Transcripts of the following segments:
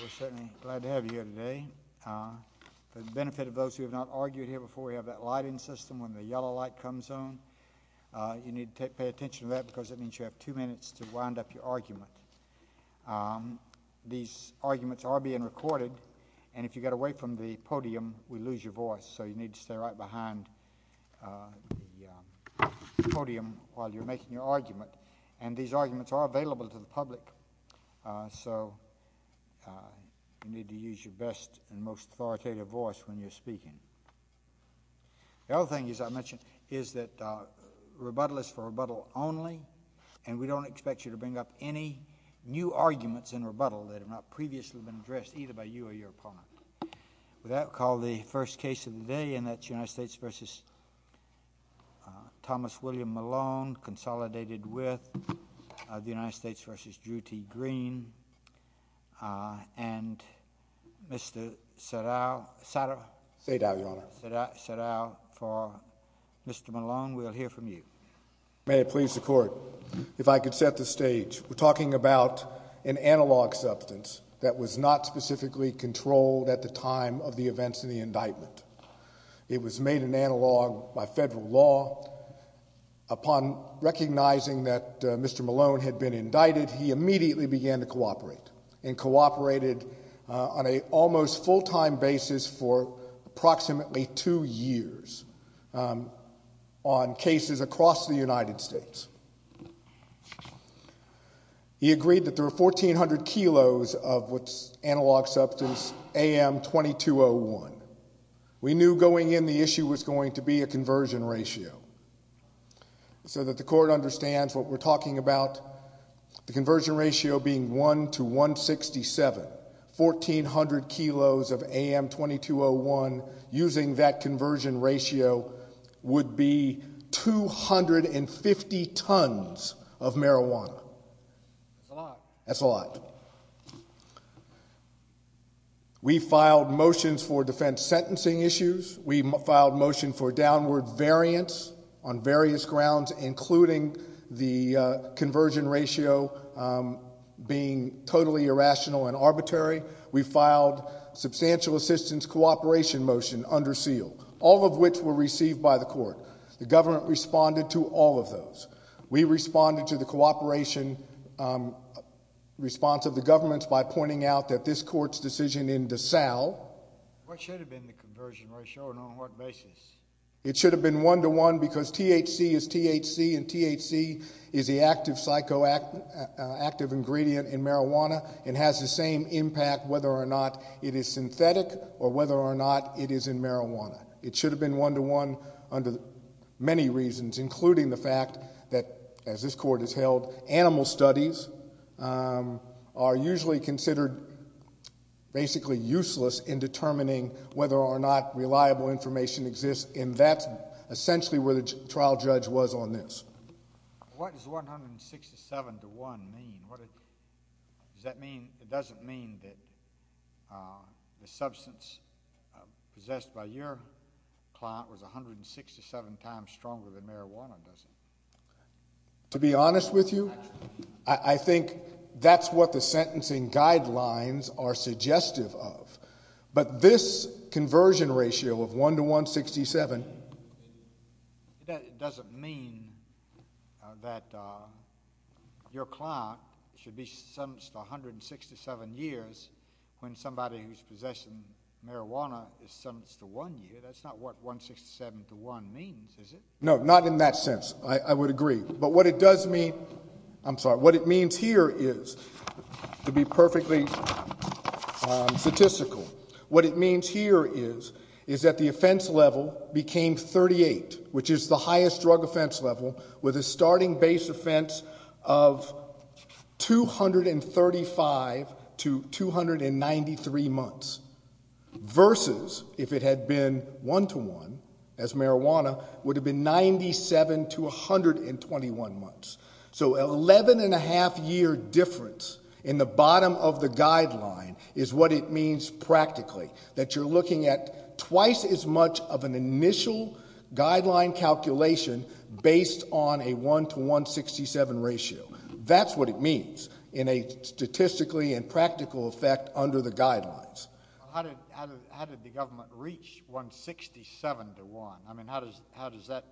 We're certainly glad to have you here today. For the benefit of those who have not argued here before, we have that lighting system when the yellow light comes on. You need to pay attention to that because that means you have two minutes to wind up your argument. These arguments are being recorded, and if you get away from the podium, we lose your voice, so you need to stay right behind the podium while you're making your argument. And these arguments are available to the public, so you need to use your best and most authoritative voice when you're speaking. The other thing, as I mentioned, is that rebuttal is for rebuttal only, and we don't expect you to bring up any new arguments in rebuttal that have not previously been addressed either by you or your opponent. With that, we'll call the first case of the day, and that's United States v. Thomas William Malone, consolidated with the United States v. Drew T. Green, and Mr. Sadao for Mr. Malone. We'll hear from you. May it please the Court. If I could set the stage, we're talking about an analog substance that was not specifically controlled at the time of the events in the indictment. It was made an analog by federal law. Upon recognizing that Mr. Malone had been indicted, he immediately began to cooperate, and cooperated on an almost full-time basis for approximately two years on cases across the United States. He agreed that there were 1,400 kilos of what's analog substance AM-2201. We knew going in the issue was going to be a conversion ratio, so that the Court understands what we're talking about. The conversion ratio being 1 to 167, 1,400 kilos of AM-2201, using that conversion ratio, would be 250 tons of marijuana. That's a lot. That's a lot. We filed motions for defense sentencing issues. We filed motion for downward variance on various grounds, including the conversion ratio being totally irrational and arbitrary. We filed substantial assistance cooperation motion under seal, all of which were received by the Court. The government responded to all of those. We responded to the cooperation response of the governments by pointing out that this Court's decision in DeSalle— What should have been the conversion ratio, and on what basis? It should have been 1 to 1 because THC is THC, and THC is the active psychoactive ingredient in marijuana and has the same impact whether or not it is synthetic or whether or not it is in marijuana. It should have been 1 to 1 under many reasons, including the fact that, as this Court has held, animal studies are usually considered basically useless in determining whether or not reliable information exists, and that's essentially where the trial judge was on this. What does 167 to 1 mean? It doesn't mean that the substance possessed by your client was 167 times stronger than marijuana, does it? To be honest with you, I think that's what the sentencing guidelines are suggestive of. But this conversion ratio of 1 to 167— That doesn't mean that your client should be sentenced to 167 years when somebody who's possessing marijuana is sentenced to 1 year. That's not what 167 to 1 means, is it? No, not in that sense. I would agree. But what it does mean—I'm sorry. What it means here is, to be perfectly statistical, what it means here is that the offense level became 38, which is the highest drug offense level, with a starting base offense of 235 to 293 months, versus if it had been 1 to 1 as marijuana, it would have been 97 to 121 months. So an 11.5-year difference in the bottom of the guideline is what it means practically, that you're looking at twice as much of an initial guideline calculation based on a 1 to 167 ratio. That's what it means in a statistically and practical effect under the guidelines. How did the government reach 167 to 1? I mean, how does that—what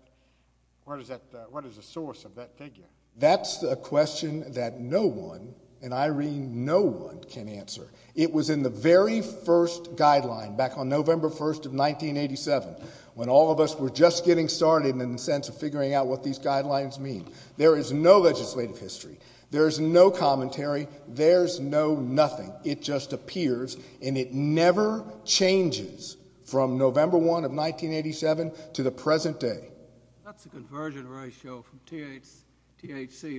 is the source of that figure? That's a question that no one, and I read no one, can answer. It was in the very first guideline, back on November 1st of 1987, when all of us were just getting started in the sense of figuring out what these guidelines mean. There is no legislative history. There is no commentary. There's no nothing. It just appears, and it never changes from November 1 of 1987 to the present day. That's the conversion ratio from THC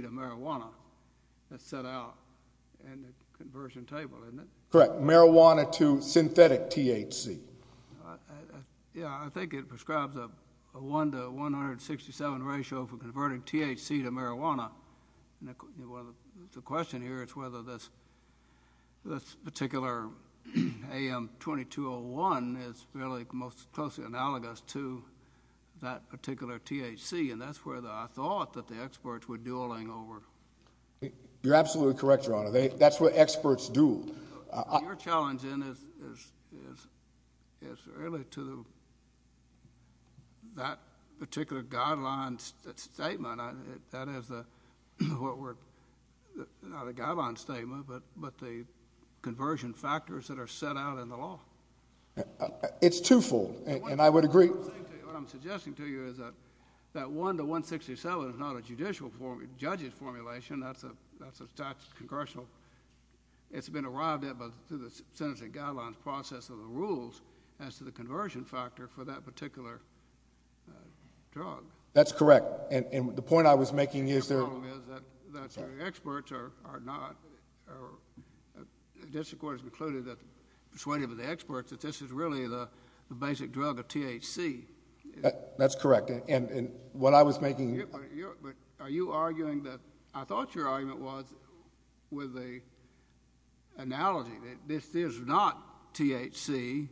to marijuana that's set out in the conversion table, isn't it? Correct. Marijuana to synthetic THC. Yeah, I think it prescribes a 1 to 167 ratio for converting THC to marijuana. The question here is whether this particular AM 2201 is really most closely analogous to that particular THC, and that's where I thought that the experts were dueling over. You're absolutely correct, Your Honor. That's where experts duel. Your challenge then is really to that particular guideline statement. That is not a guideline statement, but the conversion factors that are set out in the law. It's twofold, and I would agree. What I'm suggesting to you is that that 1 to 167 is not a judicial formulation, that's a statute of congressional... It's been arrived at through the sentencing guidelines process of the rules as to the conversion factor for that particular drug. That's correct, and the point I was making is... The problem is that the experts are not... The district court has concluded that, persuaded by the experts, that this is really the basic drug of THC. That's correct, and what I was making... But are you arguing that... I thought your argument was with the analogy that this is not THC,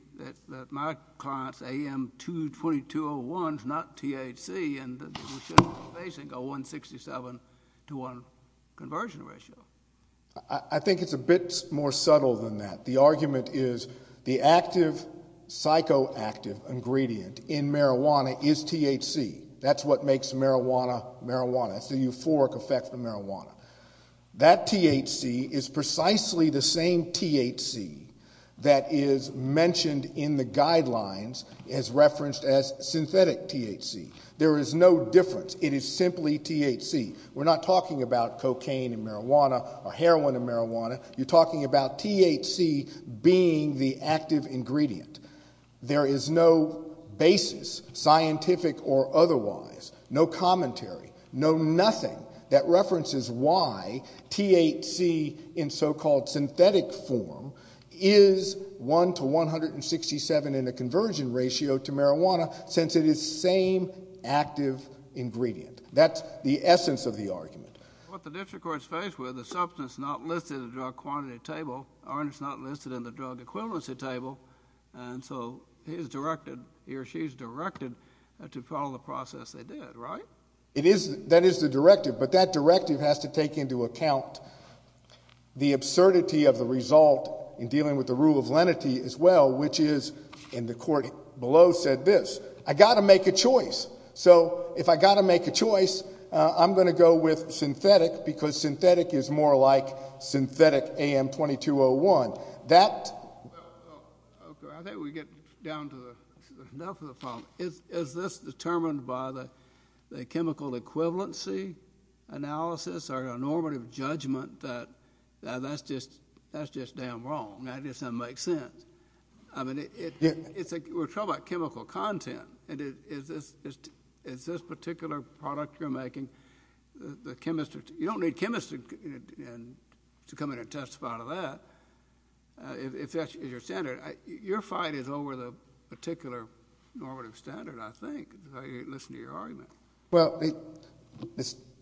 that my client's AM-2-2201 is not THC, and that we shouldn't be facing a 167 to 1 conversion ratio. I think it's a bit more subtle than that. The argument is the active, psychoactive ingredient in marijuana is THC. That's what makes marijuana marijuana. It's the euphoric effect of marijuana. That THC is precisely the same THC that is mentioned in the guidelines as referenced as synthetic THC. There is no difference. It is simply THC. We're not talking about cocaine and marijuana or heroin and marijuana. You're talking about THC being the active ingredient. There is no basis, scientific or otherwise, no commentary, no nothing, that references why THC in so-called synthetic form is 1 to 167 in the conversion ratio to marijuana since it is the same active ingredient. That's the essence of the argument. What the district court is faced with is substance not listed in the drug quantity table, or it's not listed in the drug equivalency table, and so he or she is directed to follow the process they did, right? That is the directive, but that directive has to take into account the absurdity of the result in dealing with the rule of lenity as well, which is, and the court below said this, I've got to make a choice. So if I've got to make a choice, I'm going to go with synthetic because synthetic is more like synthetic AM2201. I think we get down to the depth of the problem. Is this determined by the chemical equivalency analysis or a normative judgment that that's just damn wrong? That just doesn't make sense. We're talking about chemical content. Is this particular product you're making, the chemistry, you don't need chemistry to come in and testify to that if that's your standard. Your fight is over the particular normative standard, I think, if I listen to your argument. Well,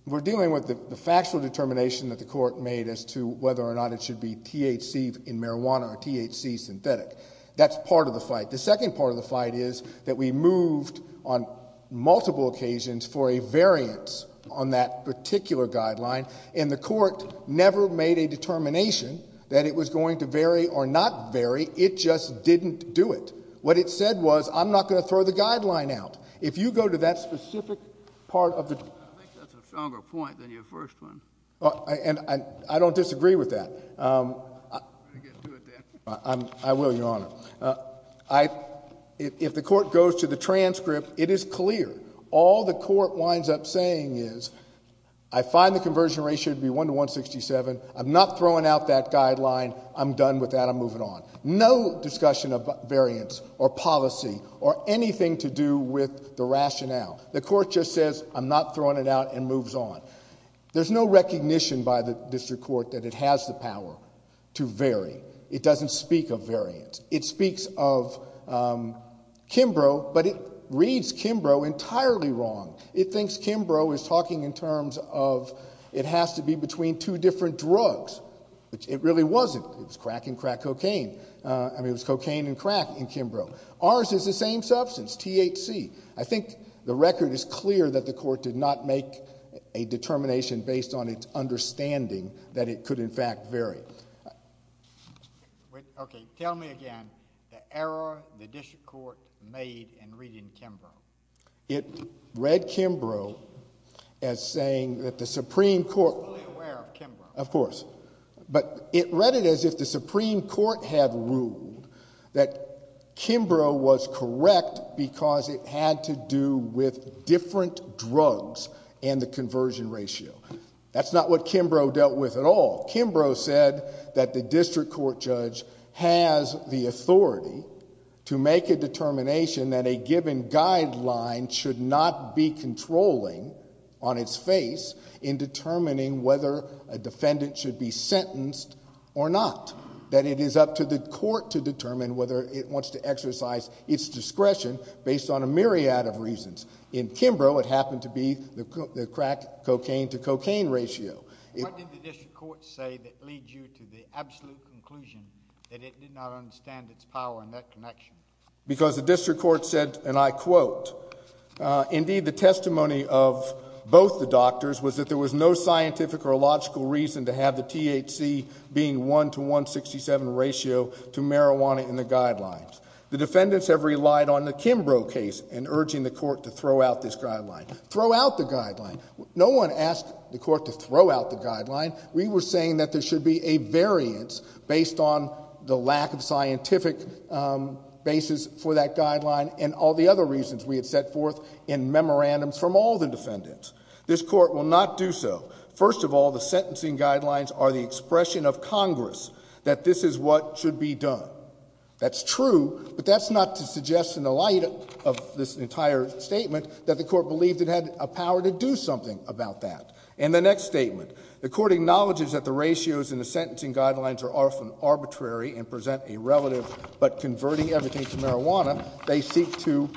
we're dealing with the factual determination that the court made as to whether or not it should be THC in marijuana or THC synthetic. That's part of the fight. The second part of the fight is that we moved on multiple occasions for a variance on that particular guideline, and the court never made a determination that it was going to vary or not vary. It just didn't do it. What it said was, I'm not going to throw the guideline out. If you go to that specific part of the ---- I think that's a stronger point than your first one. I don't disagree with that. I'm going to get to it then. I will, Your Honor. If the court goes to the transcript, it is clear. All the court winds up saying is, I find the conversion ratio to be 1 to 167. I'm not throwing out that guideline. I'm done with that. I'm moving on. No discussion of variance or policy or anything to do with the rationale. The court just says, I'm not throwing it out and moves on. There's no recognition by the district court that it has the power to vary. It doesn't speak of variance. It speaks of Kimbrough, but it reads Kimbrough entirely wrong. It thinks Kimbrough is talking in terms of, it has to be between two different drugs, which it really wasn't. It was crack and crack cocaine. I mean, it was cocaine and crack in Kimbrough. Ours is the same substance, THC. I think the record is clear that the court did not make a determination based on its understanding that it could, in fact, vary. Okay. Tell me again the error the district court made in reading Kimbrough. It read Kimbrough as saying that the Supreme Court... Fully aware of Kimbrough. Of course. But it read it as if the Supreme Court had ruled that Kimbrough was correct because it had to do with different drugs and the conversion ratio. That's not what Kimbrough dealt with at all. Kimbrough said that the district court judge has the authority to make a determination that a given guideline should not be controlling on its face in determining whether a defendant should be sentenced or not. That it is up to the court to determine whether it wants to exercise its discretion based on a myriad of reasons. In Kimbrough, it happened to be the crack-cocaine-to-cocaine ratio. What did the district court say that leads you to the absolute conclusion that it did not understand its power in that connection? Because the district court said, and I quote, indeed the testimony of both the doctors was that there was no scientific or logical reason to have the THC being 1 to 167 ratio to marijuana in the guidelines. The defendants have relied on the Kimbrough case in urging the court to throw out this guideline. Throw out the guideline. No one asked the court to throw out the guideline. We were saying that there should be a variance based on the lack of scientific basis for that guideline and all the other reasons we had set forth in memorandums from all the defendants. This court will not do so. First of all, the sentencing guidelines are the expression of Congress that this is what should be done. That's true, but that's not to suggest in the light of this entire statement that the court believed it had a power to do something about that. And the next statement. The court acknowledges that the ratios in the sentencing guidelines are arbitrary and present a relative, but converting everything to marijuana, they seek to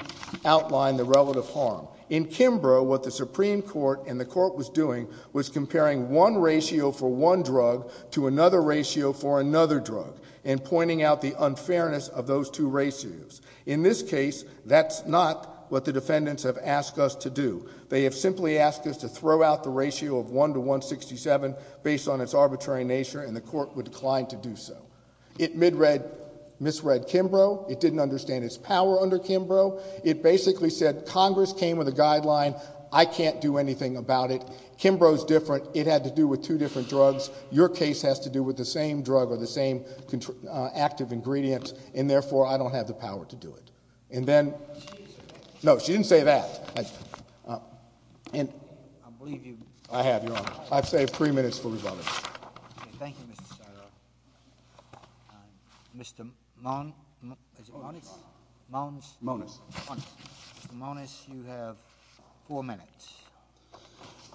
outline the relative harm. In Kimbrough, what the Supreme Court and the court was doing was comparing one ratio for one drug to another ratio for another drug and pointing out the unfairness of those two ratios. In this case, that's not what the defendants have asked us to do. They have simply asked us to throw out the ratio of 1 to 167 based on its arbitrary nature and the court would decline to do so. It misread Kimbrough. It didn't understand its power under Kimbrough. It basically said Congress came with a guideline. I can't do anything about it. Kimbrough's different. It had to do with two different drugs. Your case has to do with the same drug or the same active ingredient, and therefore I don't have the power to do it. And then... No, she didn't say that. I have, Your Honor. I've saved three minutes for rebuttals. Thank you, Mr. Syra. Mr. Monis? Monis. Mr. Monis, you have four minutes.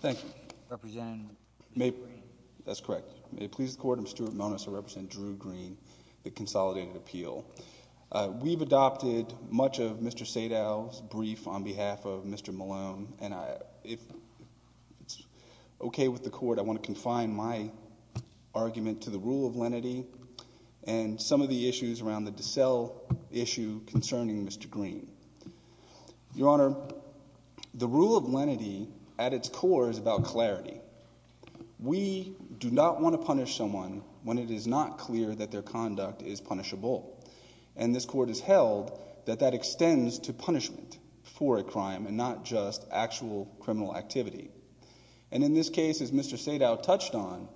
Thank you. Representing Drew Green. That's correct. May it please the Court, I'm Stuart Monis. I represent Drew Green, the Consolidated Appeal. We've adopted much of Mr. Sadow's brief on behalf of Mr. Malone, and if it's okay with the Court, I want to confine my argument to the rule of lenity and some of the issues around the DeSalle issue concerning Mr. Green. Your Honor, the rule of lenity at its core is about clarity. We do not want to punish someone when it is not clear that their conduct is punishable. And in this case, as Mr. Sadow touched on,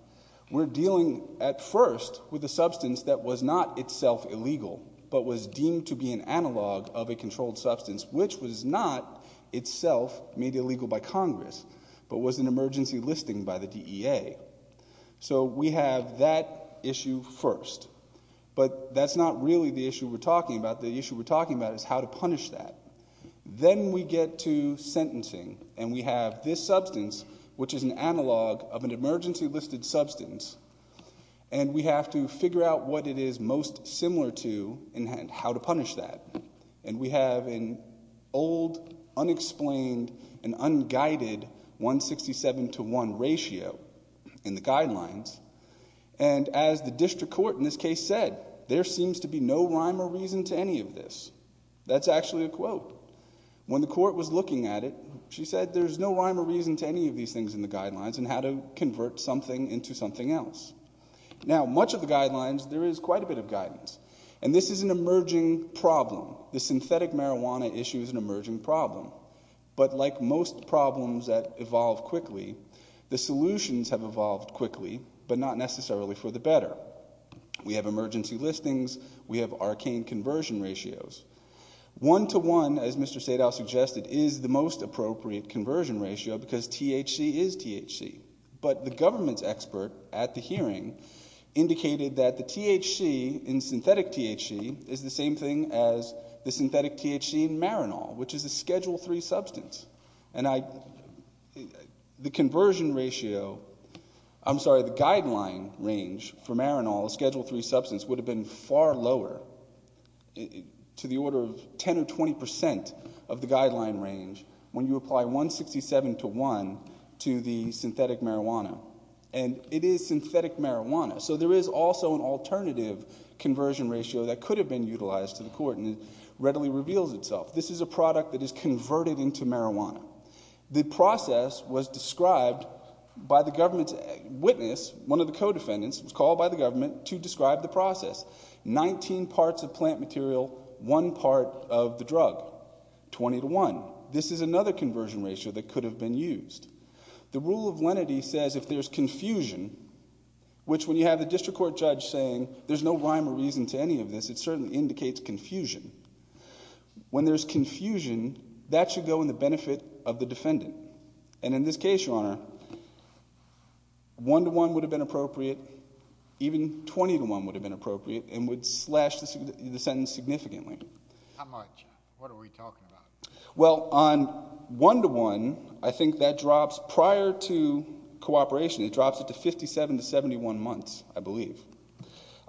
we're dealing at first with a substance that was not itself illegal but was deemed to be an analog of a controlled substance, which was not itself made illegal by Congress but was an emergency listing by the DEA. So we have that issue first. But that's not really the issue we're talking about. The issue we're talking about is how to punish that. Then we get to sentencing, and we have this substance, which is an analog of an emergency-listed substance, and we have to figure out what it is most similar to and how to punish that. And we have an old, unexplained, and unguided 167-to-1 ratio in the guidelines. And as the district court in this case said, there seems to be no rhyme or reason to any of this. That's actually a quote. When the court was looking at it, she said, there's no rhyme or reason to any of these things in the guidelines and how to convert something into something else. Now, much of the guidelines, there is quite a bit of guidance. And this is an emerging problem. The synthetic marijuana issue is an emerging problem. But like most problems that evolve quickly, the solutions have evolved quickly, but not necessarily for the better. We have emergency listings. We have arcane conversion ratios. One-to-one, as Mr. Sadow suggested, is the most appropriate conversion ratio because THC is THC. But the government's expert at the hearing indicated that the THC in synthetic THC is the same thing as the synthetic THC in marijuana, which is a Schedule III substance. And the conversion ratio... I'm sorry, the guideline range for marijuana, the Schedule III substance, would have been far lower, to the order of 10% or 20% of the guideline range when you apply 167 to 1 to the synthetic marijuana. And it is synthetic marijuana, so there is also an alternative conversion ratio that could have been utilized to the court, and it readily reveals itself. This is a product that is converted into marijuana. The process was described by the government's witness, one of the co-defendants, was called by the government to describe the process. 19 parts of plant material, one part of the drug. 20 to 1. This is another conversion ratio that could have been used. The rule of lenity says if there's confusion, which when you have the district court judge saying there's no rhyme or reason to any of this, it certainly indicates confusion. When there's confusion, that should go in the benefit of the defendant. And in this case, Your Honor, 1 to 1 would have been appropriate. Even 20 to 1 would have been appropriate and would slash the sentence significantly. How much? What are we talking about? Well, on 1 to 1, I think that drops prior to cooperation. It drops it to 57 to 71 months, I believe.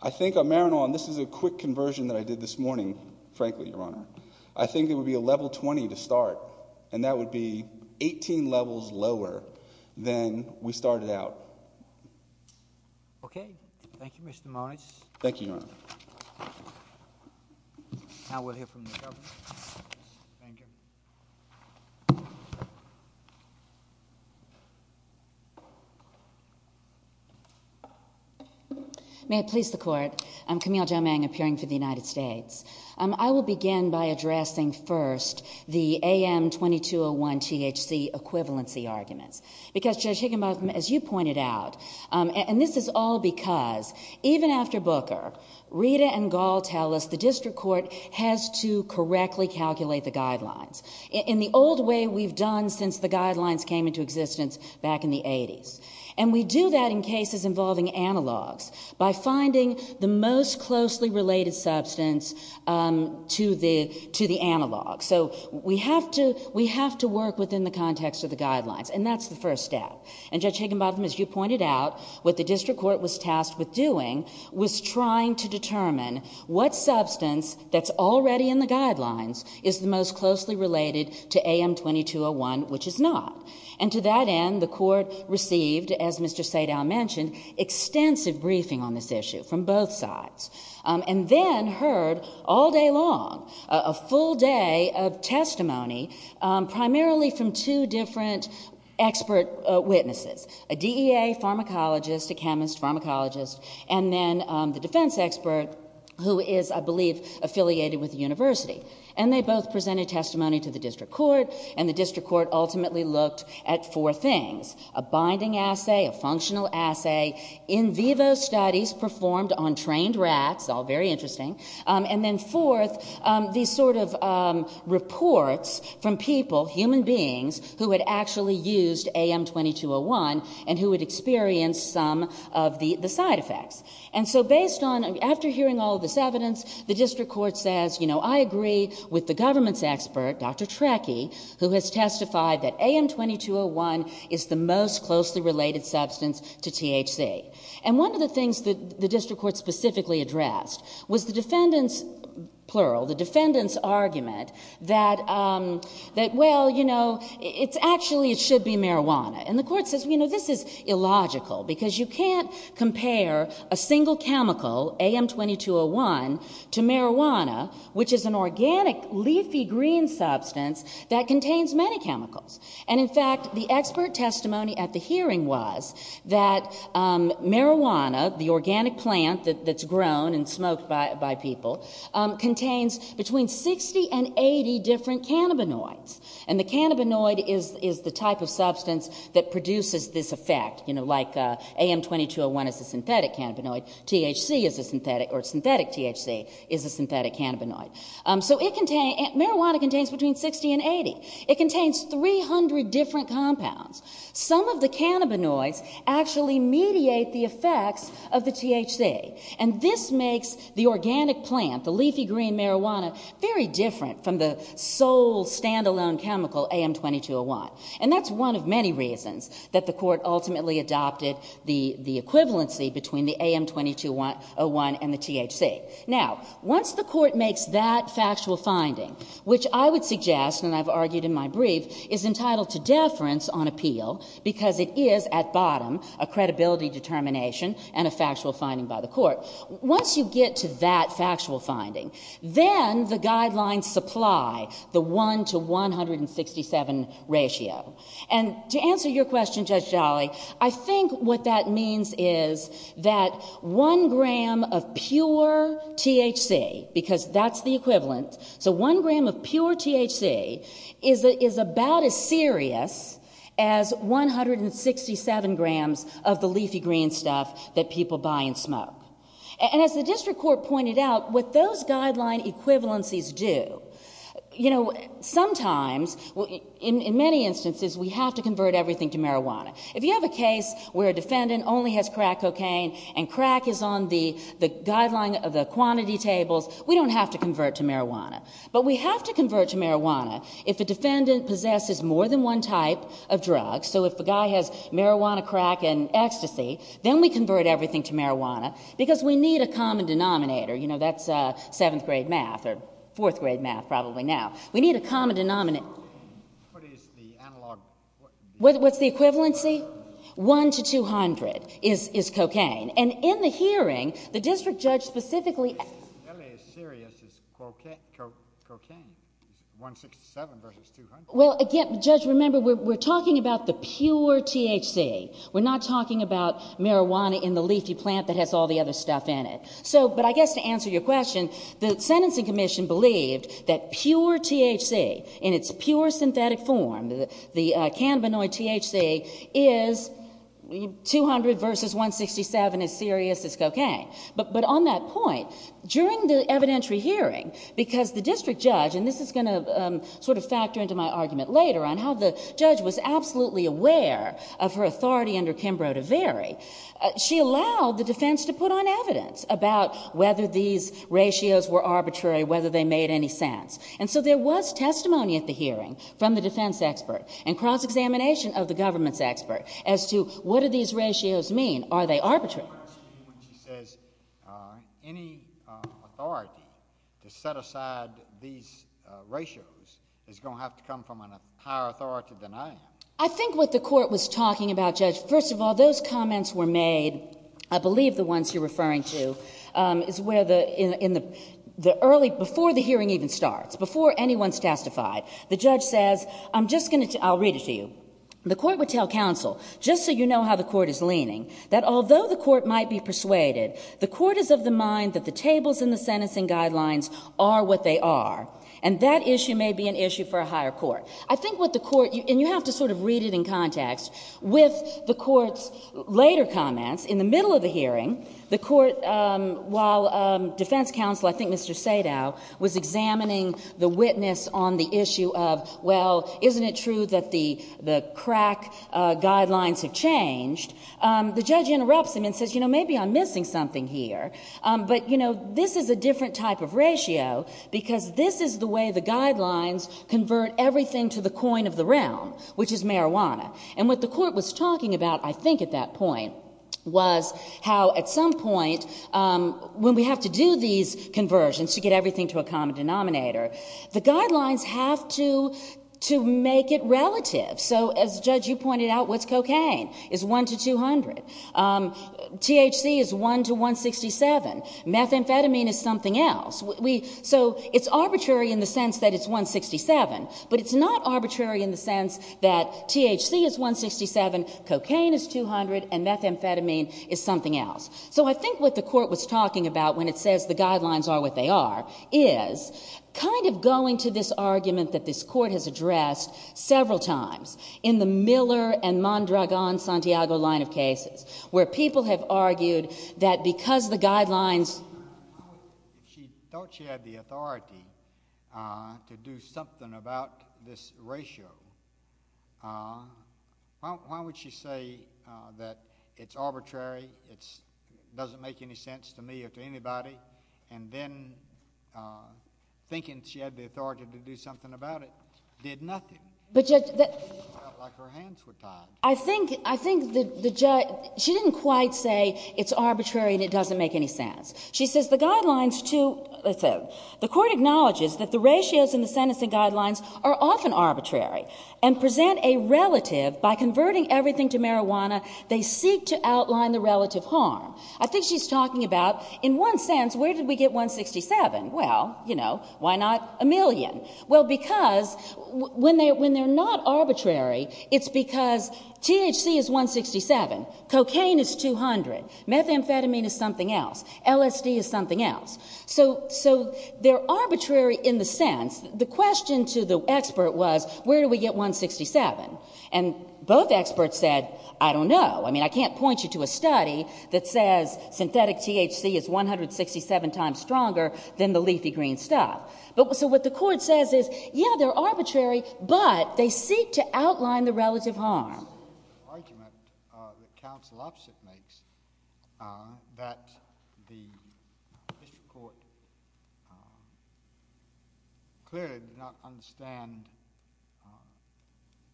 I think on marijuana, and this is a quick conversion that I did this morning, frankly, Your Honor, I think it would be a level 20 to start, and that would be 18 levels lower than we started out. Okay. Thank you, Mr. Moniz. Thank you, Your Honor. Now we'll hear from the government. Thank you. May it please the Court. I'm Camille Jomang, appearing for the United States. I will begin by addressing first the AM-2201-THC equivalency arguments, because, Judge Higginbotham, as you pointed out, and this is all because, even after Booker, Rita and Gall tell us the district court has to correctly calculate the guidelines in the old way we've done since the guidelines came into existence back in the 80s. And we do that in cases involving analogs by finding the most closely related substance to the analog. So we have to work within the context of the guidelines, and that's the first step. And, Judge Higginbotham, as you pointed out, what the district court was tasked with doing was trying to determine what substance that's already in the guidelines is the most closely related to AM-2201, which is not. And to that end, the court received, as Mr. Sadow mentioned, extensive briefing on this issue from both sides, and then heard all day long a full day of testimony, primarily from two different expert witnesses, a DEA pharmacologist, a chemist pharmacologist, and then the defense expert, who is, I believe, affiliated with the university. And they both presented testimony to the district court, and the district court ultimately looked at four things, a binding assay, a functional assay, in vivo studies performed on trained rats, all very interesting, and then fourth, these sort of reports from people, human beings, who had actually used AM-2201 and who had experienced some of the side effects. And so based on... After hearing all of this evidence, the district court says, you know, I agree with the government's expert, Dr Treke, who has testified that AM-2201 is the most closely related substance to THC. And one of the things that the district court specifically addressed was the defendant's, plural, the defendant's argument that, well, you know, actually it should be marijuana. And the court says, you know, this is illogical, because you can't compare a single chemical, AM-2201, to marijuana, which is an organic, leafy green substance that contains many chemicals. And, in fact, the expert testimony at the hearing was that marijuana, the organic plant that's grown and smoked by people, contains between 60 and 80 different cannabinoids. And the cannabinoid is the type of substance that produces this effect. You know, like AM-2201 is a synthetic cannabinoid, THC is a synthetic... or synthetic THC is a synthetic cannabinoid. So it contains... marijuana contains between 60 and 80. It contains 300 different compounds. Some of the cannabinoids actually mediate the effects of the THC. And this makes the organic plant, the leafy green marijuana, very different from the sole, stand-alone chemical, AM-2201. And that's one of many reasons that the court ultimately adopted the equivalency between the AM-2201 and the THC. Now, once the court makes that factual finding, which I would suggest, and I've argued in my brief, is entitled to deference on appeal, because it is, at bottom, a credibility determination and a factual finding by the court. Once you get to that factual finding, then the guidelines supply the 1 to 167 ratio. And to answer your question, Judge Jolly, I think what that means is that 1 gram of pure THC, because that's the equivalent, so 1 gram of pure THC is about as serious as 167 grams of the leafy green stuff that people buy and smoke. And as the district court pointed out, what those guideline equivalencies do... You know, sometimes, in many instances, we have to convert everything to marijuana. If you have a case where a defendant only has crack cocaine and crack is on the guideline of the quantity tables, we don't have to convert to marijuana. But we have to convert to marijuana if a defendant possesses more than one type of drug. So if a guy has marijuana, crack and ecstasy, then we convert everything to marijuana, because we need a common denominator. You know, that's 7th grade math, or 4th grade math, probably now. We need a common denominator. What is the analog? What's the equivalency? 1 to 200 is cocaine. And in the hearing, the district judge specifically... As serious as cocaine. 167 versus 200. Well, again, Judge, remember, we're talking about the pure THC. We're not talking about marijuana in the leafy plant that has all the other stuff in it. But I guess to answer your question, the sentencing commission believed that pure THC, in its pure synthetic form, the cannabinoid THC, is 200 versus 167, as serious as cocaine. But on that point, during the evidentiary hearing, because the district judge... And this is going to sort of factor into my argument later on how the judge was absolutely aware of her authority under Kimbrough to vary. She allowed the defence to put on evidence about whether these ratios were arbitrary, whether they made any sense. And so there was testimony at the hearing from the defence expert and cross-examination of the government's expert as to what do these ratios mean? Are they arbitrary? Any authority to set aside these ratios is going to have to come from a higher authority than I am. I think what the Court was talking about, Judge, first of all, those comments were made, I believe the ones you're referring to, is where in the early... Before the hearing even starts, before anyone's testified, the judge says, I'm just going to... I'll read it to you. The Court would tell counsel, just so you know how the Court is leaning, that although the Court might be persuaded, the Court is of the mind that the tables in the sentencing guidelines are what they are, and that issue may be an issue for a higher Court. I think what the Court... And you have to sort of read it in context with the Court's later comments. In the middle of the hearing, the Court, while defence counsel, I think Mr. Sado, was examining the witness on the issue of, well, isn't it true that the crack guidelines have changed, the judge interrupts him and says, you know, maybe I'm missing something here. But, you know, this is a different type of ratio because this is the way the guidelines convert everything to the coin of the realm, which is marijuana. And what the Court was talking about, I think, at that point, was how, at some point, when we have to do these conversions to get everything to a common denominator, the guidelines have to make it relative. So, as, Judge, you pointed out, what's cocaine? It's 1 to 200. THC is 1 to 167. Methamphetamine is something else. So it's arbitrary in the sense that it's 167, but it's not arbitrary in the sense that THC is 167, cocaine is 200, and methamphetamine is something else. So I think what the Court was talking about when it says the guidelines are what they are is kind of going to this argument that this Court has addressed several times in the Miller and Mondragon-Santiago line of cases, She thought she had the authority to do something about this ratio. Why would she say that it's arbitrary, it doesn't make any sense to me or to anybody, and then thinking she had the authority to do something about it did nothing? It felt like her hands were tied. I think the judge... She didn't quite say it's arbitrary and it doesn't make any sense. She says the guidelines to... The Court acknowledges that the ratios in the sentencing guidelines are often arbitrary and present a relative. By converting everything to marijuana, they seek to outline the relative harm. I think she's talking about, in one sense, where did we get 167? Well, you know, why not a million? Well, because when they're not arbitrary, it's because THC is 167, cocaine is 200, methamphetamine is something else, LSD is something else. So they're arbitrary in the sense... The question to the expert was, where do we get 167? And both experts said, I don't know. I mean, I can't point you to a study that says synthetic THC is 167 times stronger than the leafy green stuff. So what the Court says is, yeah, they're arbitrary, but they seek to outline the relative harm. ...argument that counsel opposite makes that the District Court clearly did not understand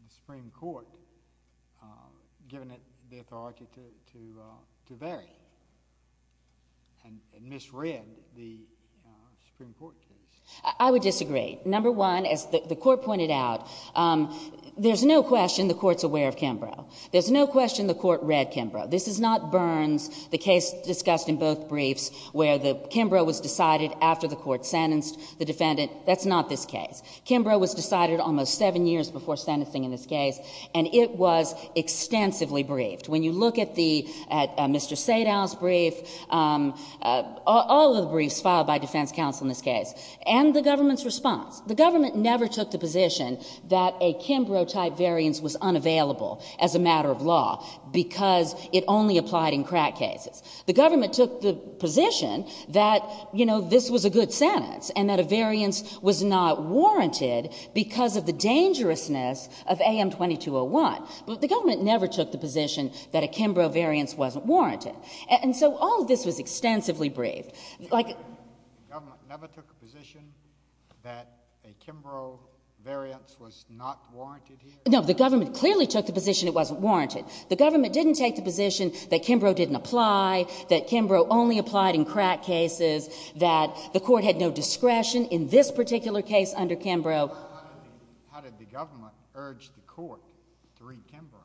the Supreme Court giving it the authority to vary and misread the Supreme Court case. I would disagree. Number one, as the Court pointed out, there's no question the Court's aware of Kimbrough. There's no question the Court read Kimbrough. This is not Burns, the case discussed in both briefs, where Kimbrough was decided after the Court sentenced the defendant. That's not this case. Kimbrough was decided almost seven years before sentencing in this case, and it was extensively briefed. When you look at Mr. Sadow's brief, all of the briefs filed by defense counsel in this case, and the government's response, the government never took the position that a Kimbrough-type variance was unavailable as a matter of law because it only applied in crack cases. The government took the position that, you know, this was a good sentence and that a variance was not warranted because of the dangerousness of AM 2201. But the government never took the position that a Kimbrough variance wasn't warranted. And so all of this was extensively briefed. The government never took the position that a Kimbrough variance was not warranted here? No, the government clearly took the position it wasn't warranted. The government didn't take the position that Kimbrough didn't apply, that Kimbrough only applied in crack cases, that the Court had no discretion in this particular case under Kimbrough. How did the government urge the Court to read Kimbrough?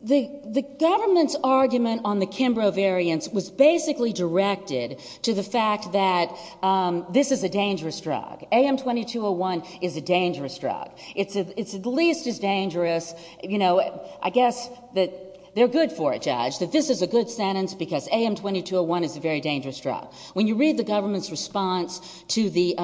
The government's argument on the Kimbrough variance was basically directed to the fact that this is a dangerous drug. AM 2201 is a dangerous drug. It's at least as dangerous... You know, I guess that they're good for it, Judge, that this is a good sentence because AM 2201 is a very dangerous drug. When you read the government's response to the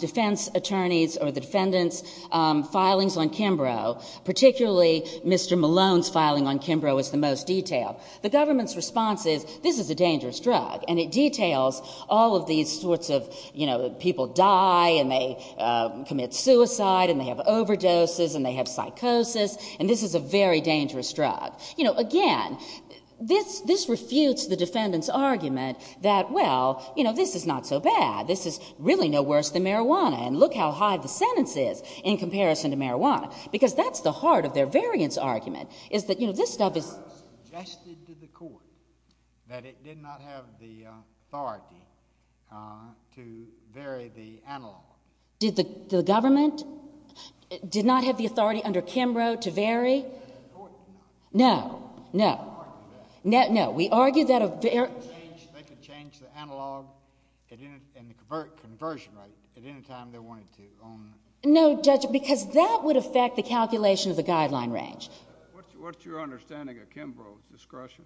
defense attorneys' or the defendants' filings on Kimbrough, particularly Mr Malone's filing on Kimbrough is the most detailed, the government's response is this is a dangerous drug and it details all of these sorts of, you know, people die and they commit suicide and they have overdoses and they have psychosis and this is a very dangerous drug. You know, again, this refutes the defendants' argument that, well, you know, this is not so bad, this is really no worse than marijuana and look how high the sentence is in comparison to marijuana because that's the heart of their variance argument is that, you know, this stuff is... ...suggested to the court that it did not have the authority to vary the analog. The government did not have the authority under Kimbrough to vary? The court did not. No, no. No, we argued that a very... They could change the analog and the conversion rate at any time they wanted to on... No, Judge, because that would affect the calculation of the guideline range. What's your understanding of Kimbrough's discretion?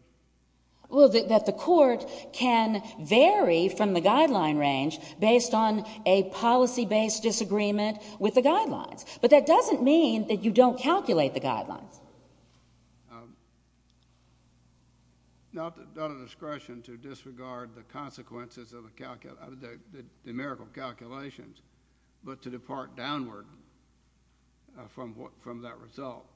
Well, that the court can vary from the guideline range based on a policy-based disagreement with the guidelines, but that doesn't mean that you don't calculate the guidelines. Not a discretion to disregard the consequences of the numerical calculations, but to depart downward from that result.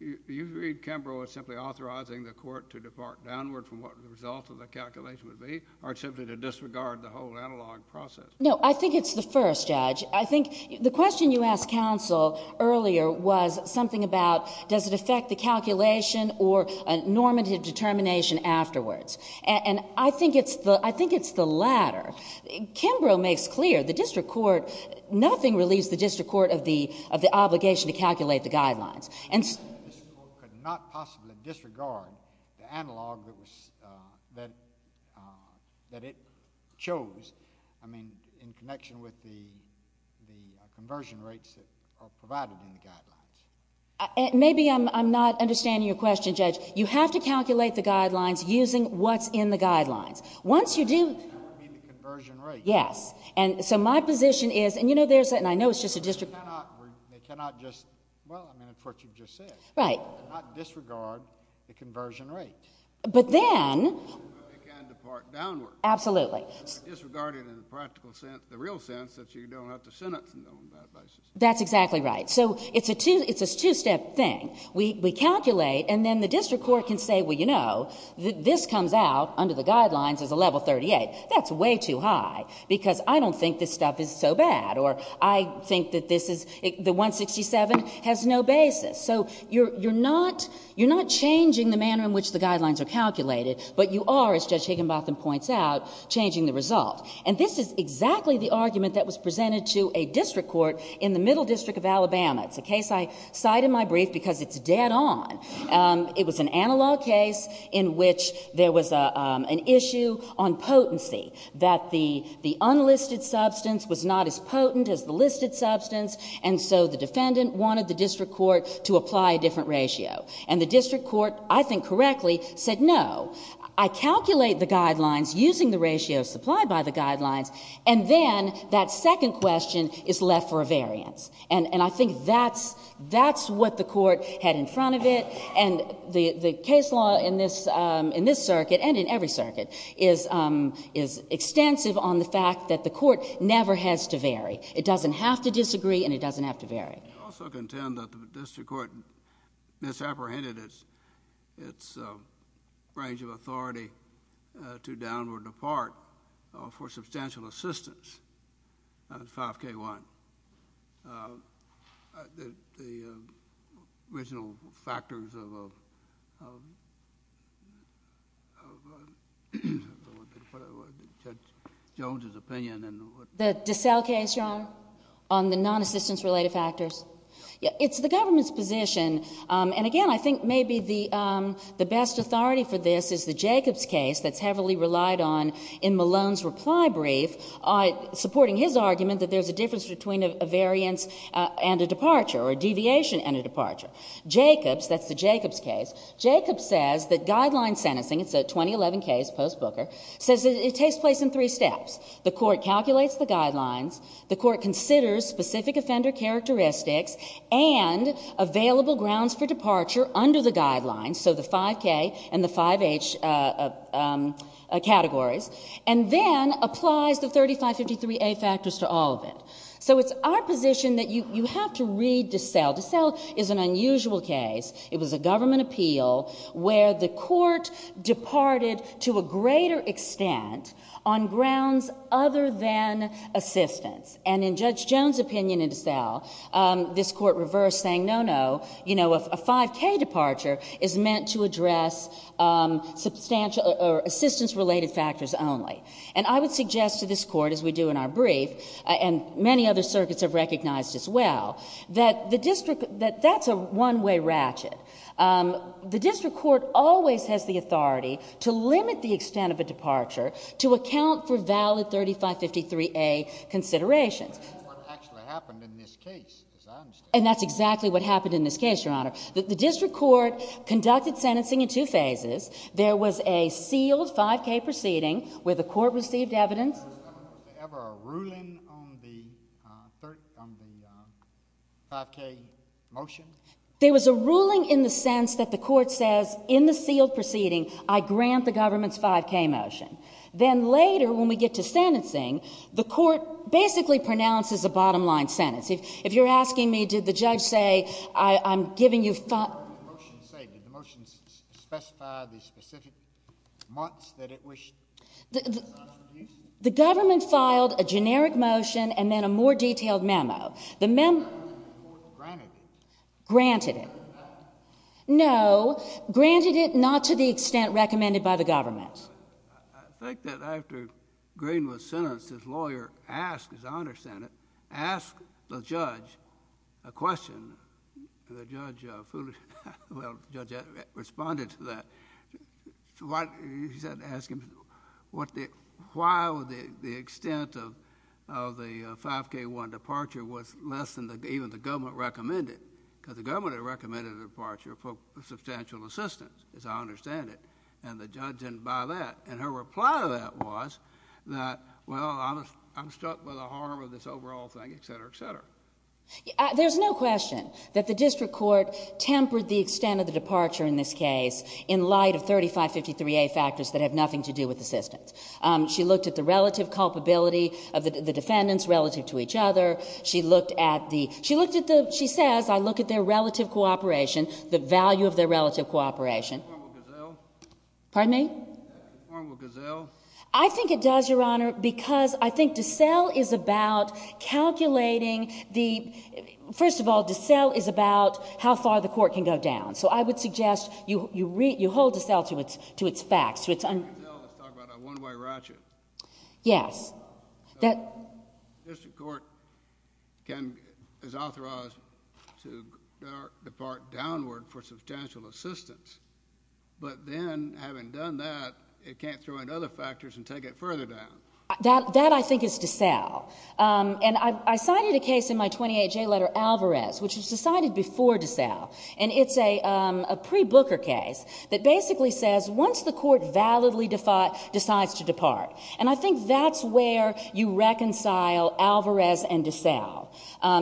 Do you agree Kimbrough is simply authorizing the court to depart downward from what the result of the calculation would be or simply to disregard the whole analog process? No, I think it's the first, Judge. I think the question you asked counsel earlier was something about does it affect the calculation or a normative determination afterwards? And I think it's the latter. Kimbrough makes clear the district court... Nothing relieves the district court of the obligation to calculate the guidelines. And so... This court could not possibly disregard the analog that it chose, I mean, in connection with the conversion rates that are provided in the guidelines. Maybe I'm not understanding your question, Judge. You have to calculate the guidelines using what's in the guidelines. Once you do... You mean the conversion rates? Yes. So my position is... And I know it's just a district court... They cannot just... Well, I mean, it's what you just said. Right. They cannot disregard the conversion rates. But then... But they can depart downward. Absolutely. Disregarded in the practical sense, the real sense, that you don't have to sentence them on that basis. That's exactly right. So it's a two-step thing. We calculate and then the district court can say, Well, you know, this comes out under the guidelines as a level 38. That's way too high because I don't think this stuff is so bad. Or I think that this is... The 167 has no basis. So you're not changing the manner in which the guidelines are calculated, but you are, as Judge Higginbotham points out, changing the result. And this is exactly the argument that was presented to a district court in the Middle District of Alabama. It's a case I cite in my brief because it's dead on. It was an analog case in which there was an issue on potency, that the unlisted substance was not as potent as the listed substance, and so the defendant wanted the district court to apply a different ratio. And the district court, I think correctly, said, No, I calculate the guidelines using the ratios supplied by the guidelines, and then that second question is left for a variance. And I think that's what the court had in front of it, and the case law in this circuit, and in every circuit, is extensive on the fact that the court never has to vary. It doesn't have to disagree, and it doesn't have to vary. I also contend that the district court misapprehended its range of authority to downward depart for substantial assistance on 5K1. The original factors of a, of a, of a, whatever it was, Judge Jones's opinion, and what. The DeSalle case, Your Honor, on the non-assistance-related factors. It's the government's position, and again, I think maybe the best authority for this is the Jacobs case that's heavily relied on in Malone's reply brief, supporting his argument that there's a difference between a variance and a departure, or a deviation and a departure. Jacobs, that's the Jacobs case, Jacobs says that guideline sentencing, it's a 2011 case, post-Booker, says it takes place in three steps. The court calculates the guidelines, the court considers specific offender characteristics, and available grounds for departure under the guidelines, so the 5K and the 5H categories, and then applies the 3553A factors to all of it. So it's our position that you have to read DeSalle. DeSalle is an unusual case. It was a government appeal where the court departed to a greater extent on grounds other than assistance, and in Judge Jones' opinion in DeSalle, this court reversed, saying, no, no, a 5K departure is meant to address assistance-related factors only. And I would suggest to this court, as we do in our brief, and many other circuits have recognized as well, that that's a one-way ratchet. The district court always has the authority to limit the extent of a departure to account for valid 3553A considerations. That's what actually happened in this case, as I understand it. And that's exactly what happened in this case, Your Honor. The district court conducted sentencing in two phases. There was a sealed 5K proceeding where the court received evidence. Was there ever a ruling on the 5K motion? There was a ruling in the sense that the court says, in the sealed proceeding, I grant the government's 5K motion. Then later, when we get to sentencing, the court basically pronounces a bottom-line sentence. If you're asking me, did the judge say, I'm giving you 5K? What did the motion say? Did the motion specify the specific months that it wished? The government filed a generic motion and then a more detailed memo. The court granted it. Granted it. No, granted it not to the extent recommended by the government. I think that after Green was sentenced, his lawyer asked, as I understand it, asked the judge a question. The judge responded to that. He said, ask him, why would the extent of the 5K-1 departure was less than even the government recommended? Because the government had recommended a departure for substantial assistance, as I understand it, and the judge didn't buy that. Her reply to that was that, well, I'm struck by the harm of this overall thing, et cetera, et cetera. There's no question that the district court tempered the extent of the departure in this case in light of 3553A factors that have nothing to do with assistance. She looked at the relative culpability of the defendants relative to each other. She looked at the... She says, I look at their relative cooperation, the value of their relative cooperation. Pardon me? I think it does, Your Honour, because I think DeSalle is about calculating the... First of all, DeSalle is about how far the court can go down. So I would suggest you hold DeSalle to its facts. Yes. The district court is authorized to depart downward for substantial assistance, but then, having done that, it can't throw in other factors and take it further down. That, I think, is DeSalle. And I cited a case in my 28J letter, Alvarez, which was decided before DeSalle, and it's a pre-Booker case that basically says once the court validly decides to depart, and I think that's where you reconcile Alvarez and DeSalle,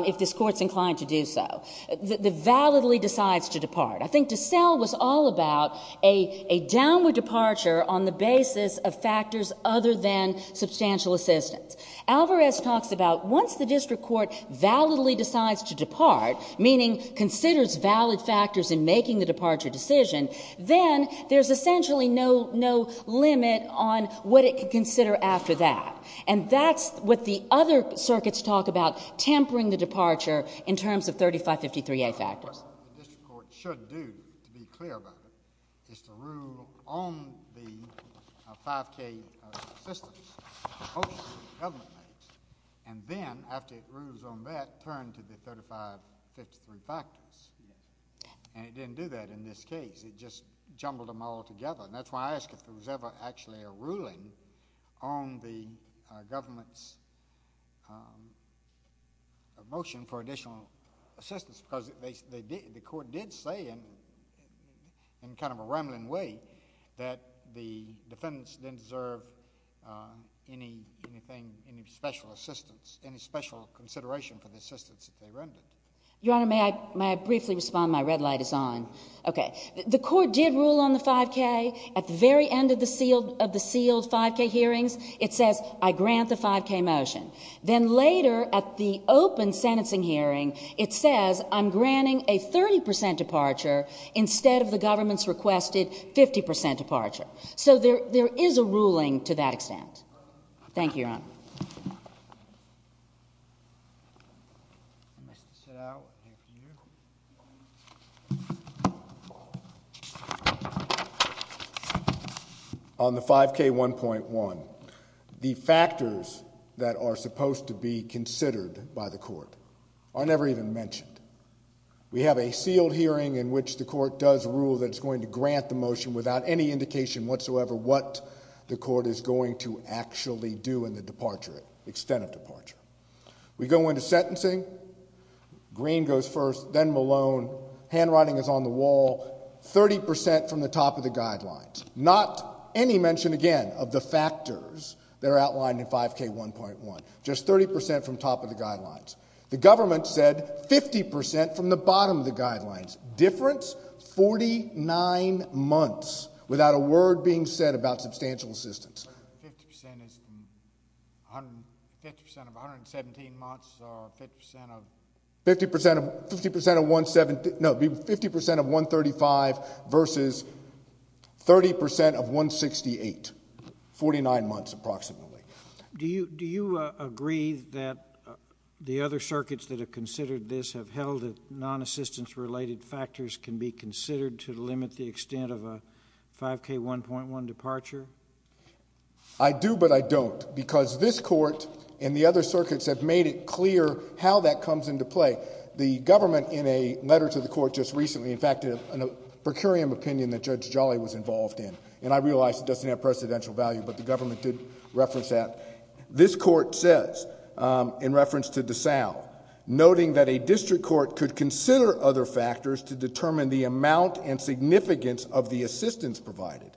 if this court's inclined to do so, that validly decides to depart. I think DeSalle was all about a downward departure on the basis of factors other than substantial assistance. Alvarez talks about once the district court validly decides to depart, meaning considers valid factors in making the departure decision, then there's essentially no limit on what it could consider after that. And that's what the other circuits talk about, tampering the departure in terms of 3553A factors. What the district court should do, to be clear about it, is to rule on the 5K assistance that the government makes, and then, after it rules on that, turn to the 3553 factors. And it didn't do that in this case. It just jumbled them all together. And that's why I ask if there was ever actually a ruling on the government's motion for additional assistance, because the court did say, in kind of a rambling way, that the defendants didn't deserve any special assistance, any special consideration for the assistance that they rendered. Your Honour, may I briefly respond? My red light is on. Okay. The court did rule on the 5K. At the very end of the sealed 5K hearings, it says, I grant the 5K motion. Then later, at the open sentencing hearing, it says, I'm granting a 30% departure instead of the government's requested 50% departure. So there is a ruling to that extent. Thank you, Your Honour. Your Honour, on the 5K1.1, the factors that are supposed to be considered by the court are never even mentioned. We have a sealed hearing in which the court does rule that it's going to grant the motion without any indication whatsoever what the court is going to actually do in the departure, extent of departure. We go into sentencing. Green goes first, then Malone. Handwriting is on the wall. 30% from the top of the guidelines. Not any mention, again, of the factors that are outlined in 5K1.1. Just 30% from top of the guidelines. The government said 50% from the bottom of the guidelines. Difference? 49 months without a word being said about substantial assistance. 50% is... 50% of 117 months, or 50% of... 50% of 117... No, 50% of 135 versus 30% of 168. 49 months, approximately. Do you agree that the other circuits that have considered this have held that non-assistance-related factors can be considered to limit the extent of a 5K1.1 departure? I do, but I don't, because this court and the other circuits have made it clear how that comes into play. The government, in a letter to the court just recently, in fact, in a per curiam opinion that Judge Jolly was involved in, and I realize it doesn't have precedential value, but the government did reference that, this court says, in reference to DeSalle, noting that a district court could consider other factors to determine the amount and significance of the assistance provided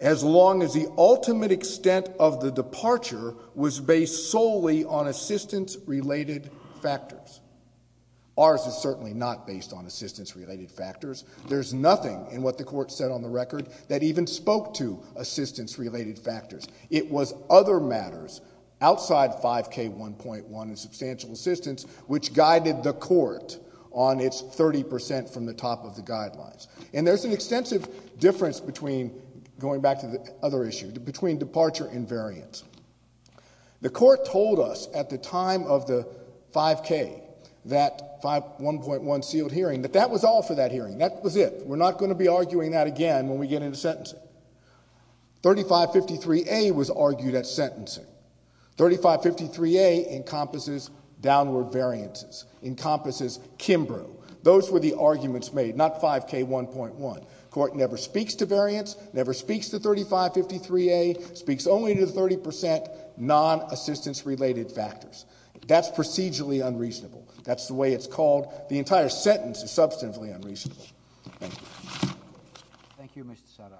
as long as the ultimate extent of the departure was based solely on assistance-related factors. Ours is certainly not based on assistance-related factors. There's nothing in what the court said on the record that even spoke to assistance-related factors. It was other matters outside 5K1.1 and substantial assistance which guided the court on its 30% from the top of the guidelines. And there's an extensive difference between... The court told us at the time of the 5K, that 1.1 sealed hearing, that that was all for that hearing, that was it. We're not going to be arguing that again when we get into sentencing. 3553A was argued at sentencing. 3553A encompasses downward variances, encompasses Kimbrough. Those were the arguments made, not 5K1.1. The court never speaks to variance, never speaks to 3553A, speaks only to the 30% non-assistance-related factors. That's procedurally unreasonable. That's the way it's called. The entire sentence is substantially unreasonable. Thank you. Thank you, Mr. Sadar.